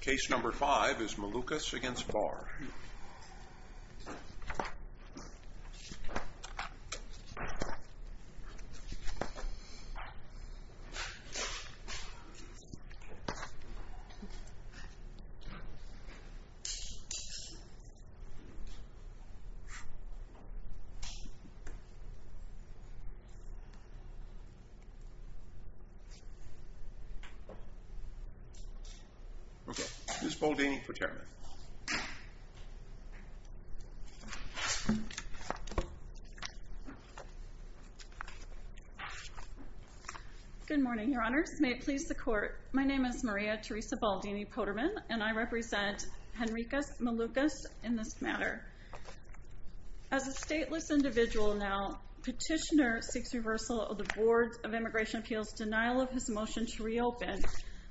Case number 5 is Malukas v. Barr Good morning, your honors. May it please the court, my name is Maria Theresa Baldini-Potterman and I represent Henrikas Malukas in this matter. As a stateless individual now, petitioner seeks reversal of the Board of Immigration Appeals' denial of his motion to reopen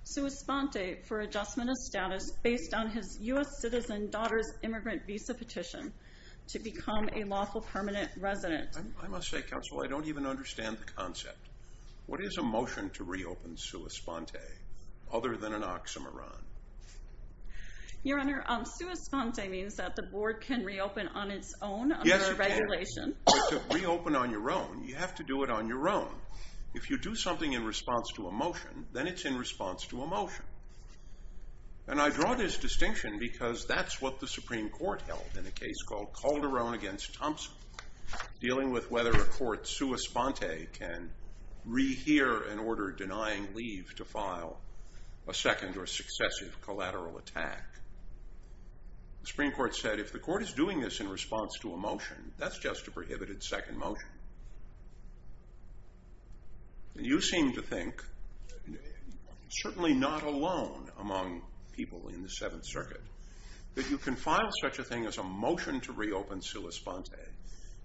Sua Sponte for adjustment of status based on his U.S. citizen daughter's immigrant visa petition to become a lawful permanent resident. I must say, counsel, I don't even understand the concept. What is a motion to reopen Sua Sponte other than an oxymoron? Your honor, Sua Sponte means that the board can reopen on its own under a regulation. But to reopen on your own, you have to do it on your own. If you do something in response to a motion, then it's in response to a motion. And I draw this distinction because that's what the Supreme Court held in a case called Calderon v. Thompson, dealing with whether a court Sua Sponte can rehear an order denying leave to file a second or successive collateral attack. The Supreme Court said if the court is doing this in response to a motion, that's just a prohibited second motion. And you seem to think, certainly not alone among people in the Seventh Circuit, that you can file such a thing as a motion to reopen Sua Sponte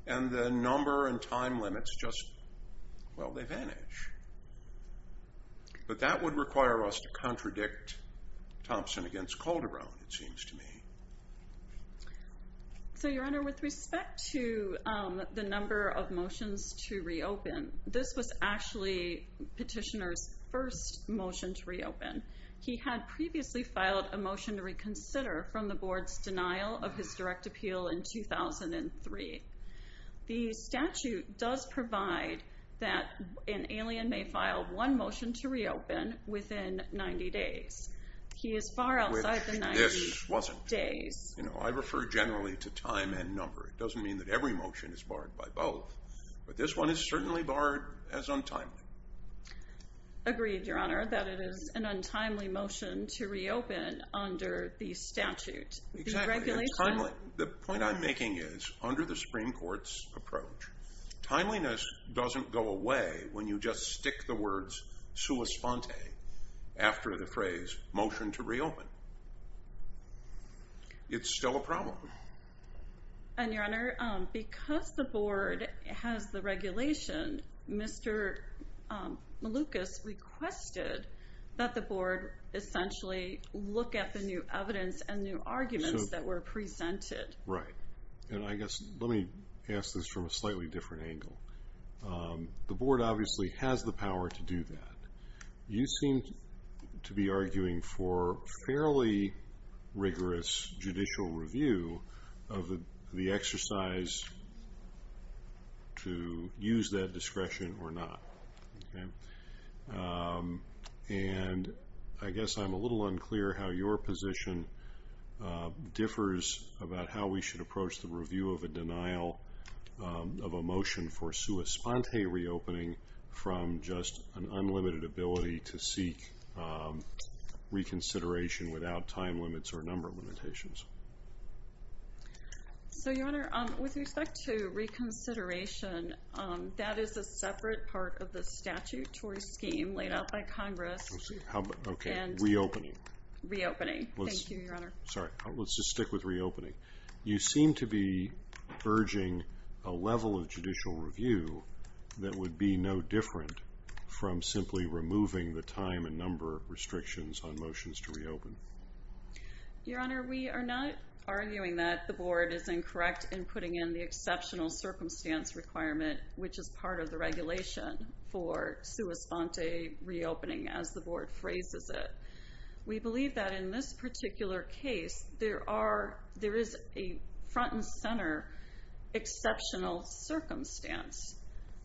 and the number and time limits just, well, they vanish. But that would require us to include the number of motions to reopen. This was actually Petitioner's first motion to reopen. He had previously filed a motion to reconsider from the board's denial of his direct appeal in 2003. The statute does provide that an alien may file one motion to reopen within 90 days. He is far outside the 90 days. I refer generally to time and number. It doesn't mean that every motion is barred by both. But this one is certainly barred as untimely. Agreed, Your Honor, that it is an untimely motion to reopen under the statute. Exactly. The point I'm making is, under the Supreme Court's approach, timeliness doesn't go away when you just stick the words Sua Sponte after the phrase motion to reopen. It's still a problem. And Your Honor, because the board has the regulation, Mr. Malukas requested that the board essentially look at the new evidence and new arguments that were presented. Right. And I guess, let me ask this from a slightly different angle. The board obviously has the power to do that. You seem to be arguing for fairly rigorous judicial review of the exercise to use that discretion or not. And I guess I'm a little unclear how your position differs about how we should approach the review of a denial of a motion for Sua Sponte reopening from just an unlimited ability to seek reconsideration without time limits or number limitations. So, Your Honor, with respect to reconsideration, that is a separate part of the statutory scheme laid out by Congress. Reopening. Reopening. Thank you, Your Honor. Sorry, let's just stick with reopening. You seem to be urging a level of judicial review that would be no different from simply removing the time and number restrictions on motions to reopen. Your Honor, we are not arguing that the board is incorrect in putting in the exceptional circumstance requirement, which is part of the regulation for Sua Sponte reopening, as the board phrases it. We believe that in this particular case, there is a front and center exceptional circumstance.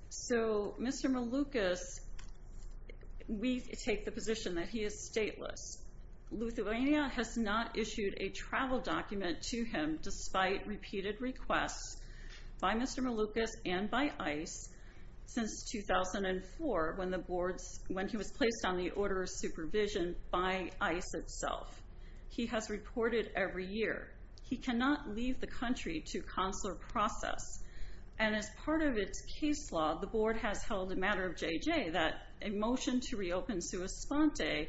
So, Mr. Malukas, we take the position that he is stateless. Lithuania has not issued a travel document to him despite repeated requests by Mr. Malukas and by ICE since 2004 when he was placed on the order of supervision by ICE itself. He has reported every year. He cannot leave the country to consular process. And as part of its case law, the board has held a matter of JJ that a motion to reopen Sua Sponte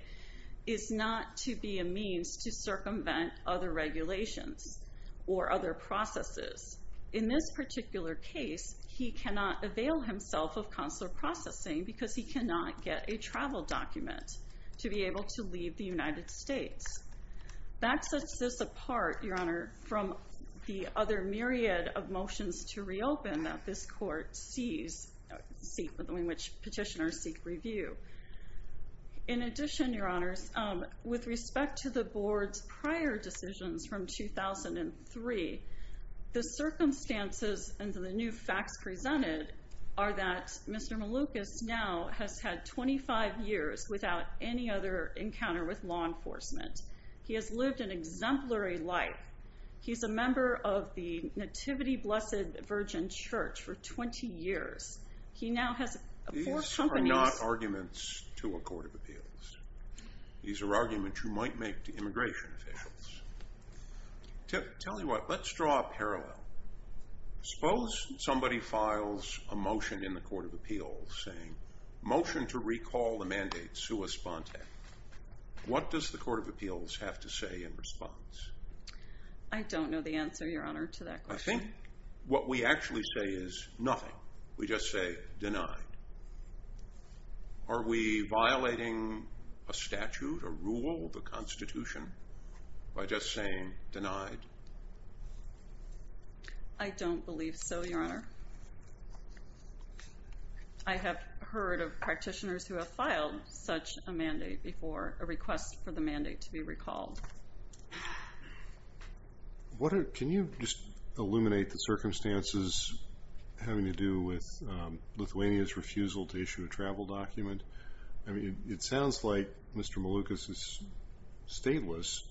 is not to be a means to circumvent other regulations or other processes. In this particular case, he cannot avail himself of consular processing because he cannot get a travel document to be able to leave the United States. That sets this apart, Your Honor, from the other myriad of motions to reopen that this court sees, which petitioners seek review. In addition, Your Honors, with respect to the board's prior decisions from 2003, the circumstances and the new facts presented are that Mr. Malukas now has had 25 years without any other encounter with law enforcement. He has lived an exemplary life. He's a member of the Nativity Blessed Virgin Church for 20 years. He now has four companies. These are not arguments to a court of appeals. These are arguments you might make to immigration officials. Tell you what, let's draw a parallel. Suppose somebody files a motion in the court of appeals saying motion to recall the mandate Sua Sponte. What does the court of appeals have to say in response? I don't know the answer, Your Honor, to that question. I think what we actually say is nothing. We just say denied. Are we violating a statute, a rule, the Constitution by just saying denied? I don't believe so, Your Honor. I have heard of practitioners who have filed such a mandate before, a request for the mandate to be recalled. Can you just illuminate the circumstances having to do with Lithuania's refusal to issue a travel document? It sounds like Mr. Malukas is stateless,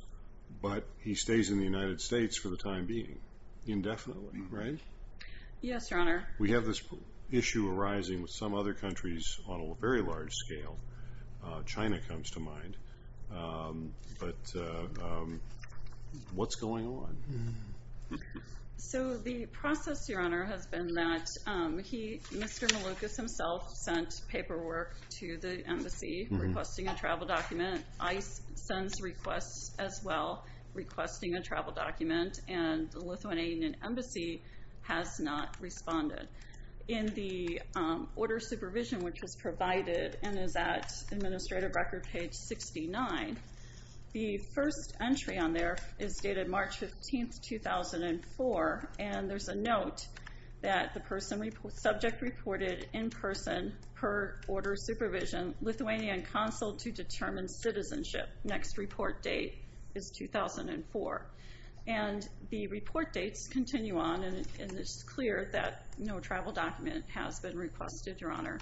but he stays in the United States for the time being, indefinitely, right? Yes, Your Honor. We have this issue arising with some other countries on a very large scale. China comes to mind. But what's going on? So the process, Your Honor, has been that Mr. Malukas himself sent paperwork to the embassy requesting a travel document. ICE sends requests as well requesting a travel document, and the Lithuanian embassy has not responded. In the order of supervision which was provided and is at administrative record page 69, the first entry on there is dated March 15, 2004, and there's a note that the subject reported in person per order of supervision, Lithuanian consul to determine citizenship. Next report date is 2004. And the report dates continue on, and it's clear that no travel document has been requested, Your Honor.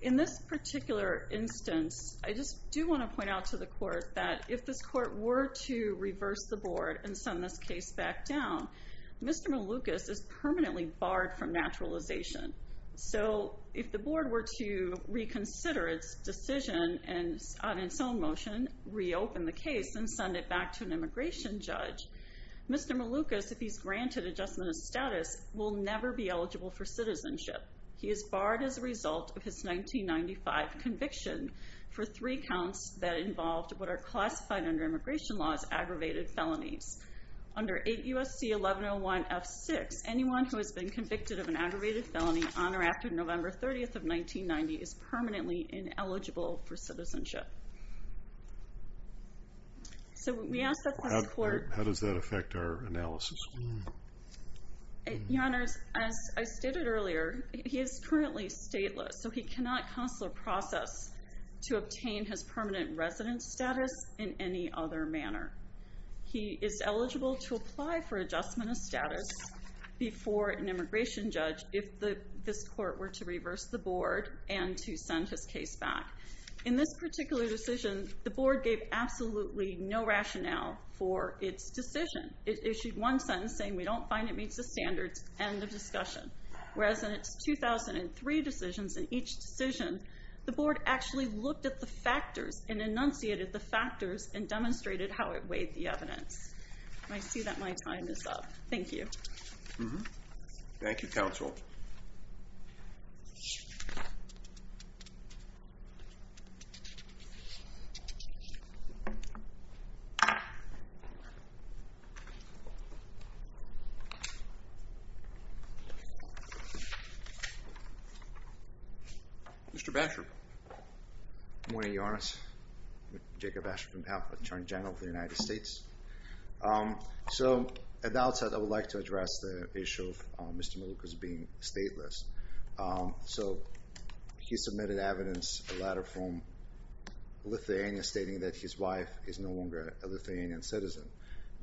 In this particular instance, I just do want to point out to the court that if this court were to reverse the board and send this case back down, Mr. Malukas is permanently barred from naturalization. So if the board were to reconsider its decision on its own motion, reopen the case, and send it back to an immigration judge, Mr. Malukas, if he's granted adjustment of status, will never be eligible for citizenship. He is barred as a result of his 1995 conviction for three counts that involved what are classified under immigration law as aggravated felonies. Under 8 U.S.C. 1101 F6, anyone who has been convicted of an aggravated felony on or after November 30, 1990 is permanently ineligible for citizenship. So we ask that this court... How does that affect our analysis? Your Honor, as I stated earlier, he is currently stateless, so he cannot consular process to obtain his permanent residence status in any other manner. He is eligible to apply for adjustment of status before an immigration judge if this court were to reverse the board and to send his case back. In this particular decision, the board gave absolutely no rationale for its decision. It issued one sentence saying, we don't find it meets the standards. End of discussion. Whereas in its 2003 decisions, in each decision, the board actually looked at the factors and enunciated the factors and demonstrated how it weighed the evidence. I see that my time is up. Thank you. Thank you, counsel. Mr. Batchelor. Good morning, Your Honor. Jacob Batchelor on behalf of the Attorney General of the United States. So at the outset, I would like to address the issue of Mr. Malukas being stateless. So he submitted evidence, a letter from Lithuania stating that his wife is no longer a Lithuanian citizen.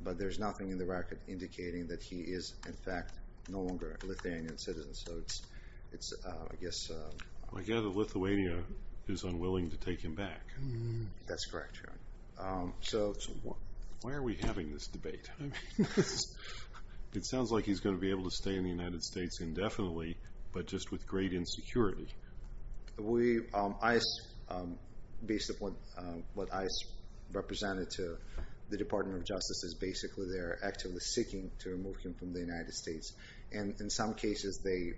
But there's nothing in the record indicating that he is, in fact, no longer a Lithuanian citizen. So it's, I guess... I gather Lithuania is unwilling to take him back. That's correct, Your Honor. Why are we having this debate? I mean, it sounds like he's going to be able to stay in the United States indefinitely, but just with great insecurity. Based upon what I represented to the Department of Justice, is basically they're actively seeking to remove him from the United States. And in some cases, they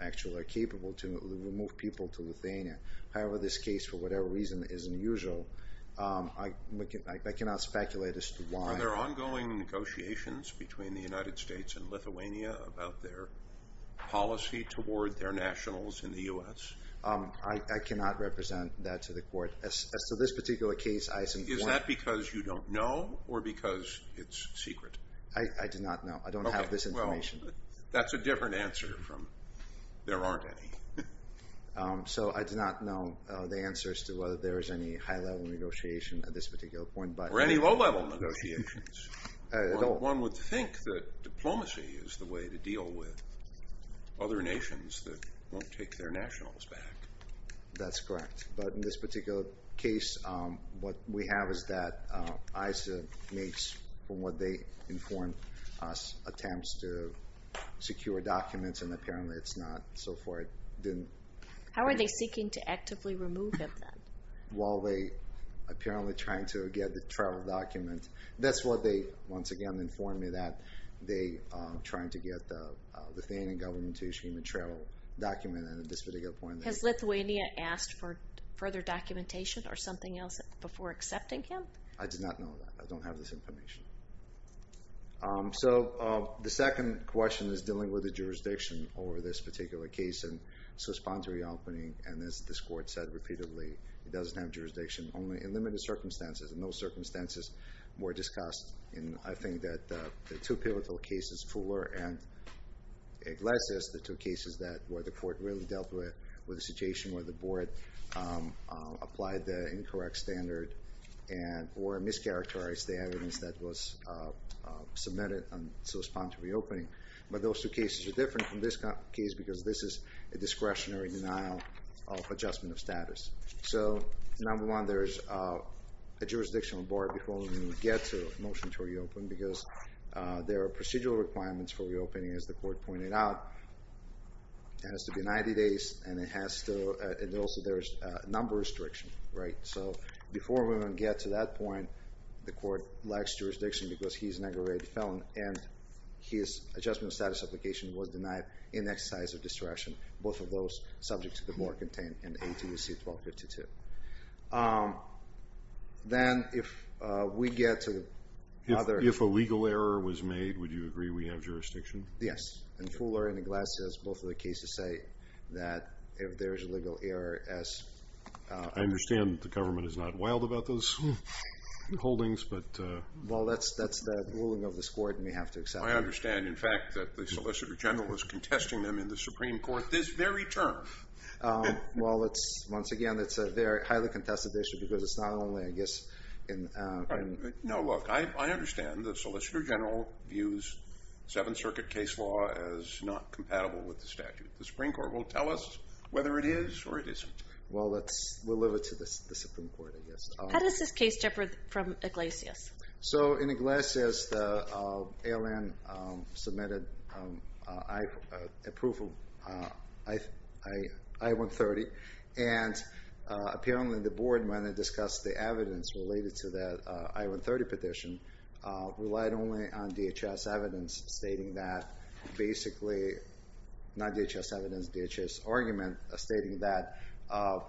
actually are capable to remove people to Lithuania. However, this case, for whatever reason, is unusual. I cannot speculate as to why. Are there ongoing negotiations between the United States and Lithuania about their policy toward their nationals in the U.S.? I cannot represent that to the Court. As to this particular case, I simply... Is that because you don't know or because it's secret? I do not know. I don't have this information. That's a different answer from, there aren't any. So I do not know the answers to whether there is any high-level negotiation at this particular point. Or any low-level negotiations. One would think that diplomacy is the way to deal with other nations that won't take their nationals back. That's correct. But in this particular case, what we have is that ISA makes, from what they inform us, attempts to secure documents, and apparently it's not, so far it didn't... How are they seeking to actively remove him, then? Well, they're apparently trying to get the travel document. That's what they, once again, informed me, that they are trying to get the Lithuanian government to issue a travel document at this particular point. Has Lithuania asked for further documentation or something else before accepting him? I do not know that. I don't have this information. So the second question is dealing with the jurisdiction over this particular case. And so sponsoring the opening, and as this court said repeatedly, it doesn't have jurisdiction. Only in limited circumstances, and those circumstances were discussed in, I think, the two pivotal cases, Fuller and Iglesias, the two cases where the court really dealt with the situation where the board applied the incorrect standard or mischaracterized the evidence that was submitted to respond to reopening. But those two cases are different from this case because this is a discretionary denial of adjustment of status. So, number one, there is a jurisdictional bar before we get to a motion to reopen because there are procedural requirements for reopening, as the court pointed out. It has to be 90 days, and it has to... And also there's a number restriction, right? So before we even get to that point, the court lacks jurisdiction because he's an aggravated felon, and his adjustment of status application was denied in exercise of discretion. Both of those subject to the board contained in ATUC 1252. Then if we get to the other... If a legal error was made, would you agree we have jurisdiction? Yes, in Fuller and Iglesias, both of the cases say that if there is a legal error, as... I understand the government is not wild about those holdings, but... Well, that's the ruling of this court, and we have to accept it. I understand, in fact, that the Solicitor General is contesting them in the Supreme Court this very term. Well, once again, it's a highly contested issue because it's not only, I guess, in... No, look, I understand the Solicitor General views Seventh Circuit case law as not compatible with the statute. The Supreme Court will tell us whether it is or it isn't. Well, that's... We'll leave it to the Supreme Court, I guess. How does this case differ from Iglesias? So, in Iglesias, the ALN submitted approval, I-130, and apparently the board, when it discussed the evidence related to that I-130 petition, relied only on DHS evidence stating that basically... Not DHS evidence, DHS argument, stating that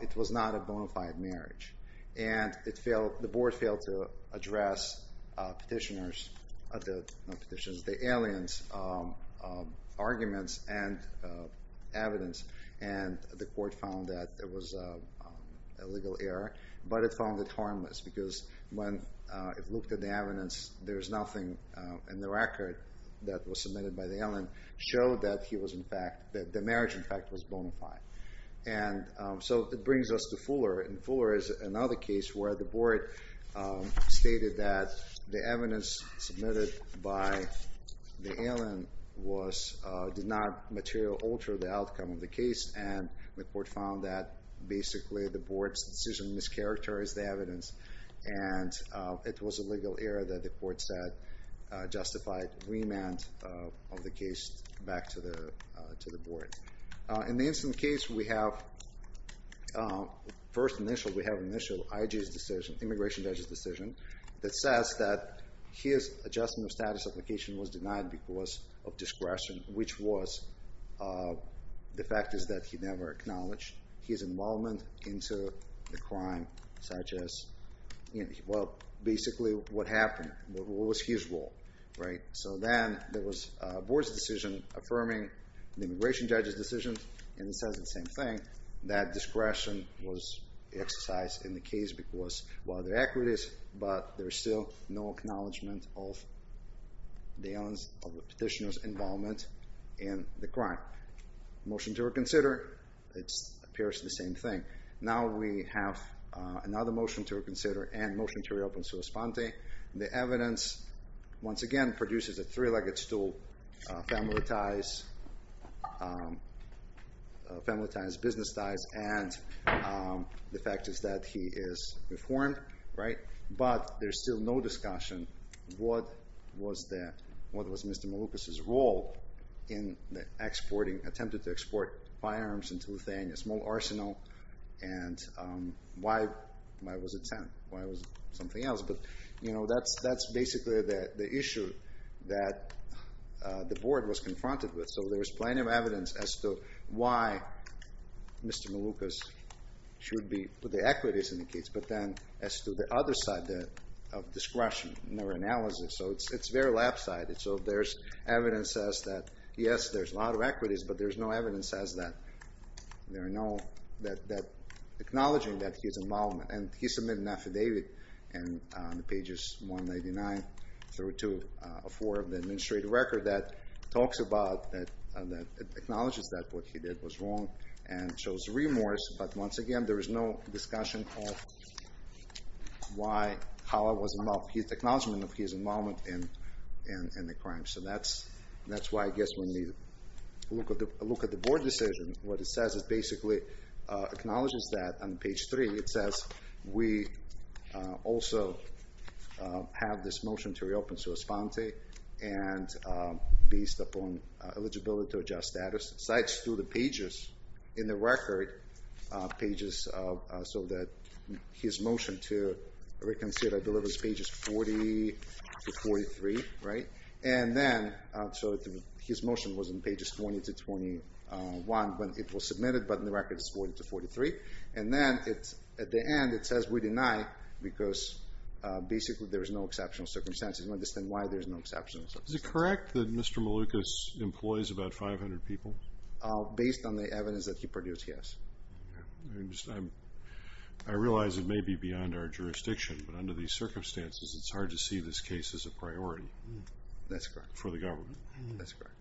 it was not a bona fide marriage. And the board failed to address petitioners... Not petitioners, the ALN's arguments and evidence, and the court found that it was a legal error, but it found it harmless because when it looked at the evidence, there's nothing in the record that was submitted by the ALN showed that the marriage, in fact, was bona fide. And so it brings us to Fuller, and Fuller is another case where the board stated that the evidence submitted by the ALN did not material alter the outcome of the case, and the court found that basically the board's decision mischaracterized the evidence, and it was a legal error that the court said justified remand of the case back to the board. In the incident case, we have... First initial, we have initial IJ's decision, immigration judge's decision, that says that his adjustment of status application was denied because of discretion, which was... The fact is that he never acknowledged his involvement into the crime, such as... Well, basically, what happened? What was his role, right? So then there was a board's decision affirming the immigration judge's decision, and it says the same thing, that discretion was exercised in the case because of other equities, but there's still no acknowledgement of the petitioner's involvement in the crime. Motion to reconsider. It appears the same thing. Now we have another motion to reconsider and motion to reopen sua sponte. The evidence, once again, produces a three-legged stool, family ties, business ties, and the fact is that he is informed, right? But there's still no discussion. What was Mr. Maloukas' role in the exporting, attempted to export firearms into Lithuania, small arsenal, and why was it sent? Why was it something else? But, you know, that's basically the issue that the board was confronted with. So there's plenty of evidence as to why Mr. Maloukas should be with the equities in the case, but then as to the other side of discretion in their analysis. So it's very lopsided. So there's evidence that, yes, there's a lot of equities, but there's no evidence that acknowledging that his involvement, and he submitted an affidavit on pages 199 through 204 of the administrative record that talks about, that acknowledges that what he did was wrong and shows remorse, but once again, there is no discussion of how it was his acknowledgement of his involvement in the crime. So that's why I guess when we look at the board decision, what it says is basically acknowledges that on page 3, it says, we also have this motion to reopen sua sponte and based upon eligibility to adjust status. It cites through the pages in the record pages so that his motion to reconsider, I believe, is pages 40 to 43, right? And then, so his motion was in pages 20 to 21 when it was submitted, but in the record, it's 40 to 43. And then at the end, it says we deny because basically there is no exceptional circumstances. I don't understand why there's no exceptional circumstances. Is it correct that Mr. Malukas employs about 500 people? Based on the evidence that he produced, yes. I realize it may be beyond our jurisdiction, but under these circumstances, it's hard to see this case as a priority for the government. That's correct.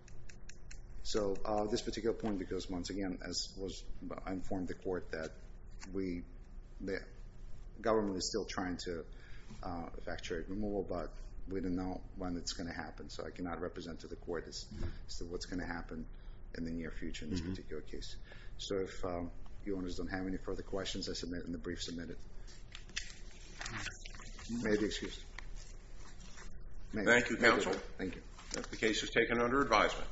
So this particular point, because once again, I informed the court that the government is still trying to effect jury removal, but we don't know when it's going to happen, so I cannot represent to the court as to what's going to happen in the near future in this particular case. So if you owners don't have any further questions, I submit in the brief submitted. May I be excused? Thank you, counsel. Thank you. The case is taken under advisement.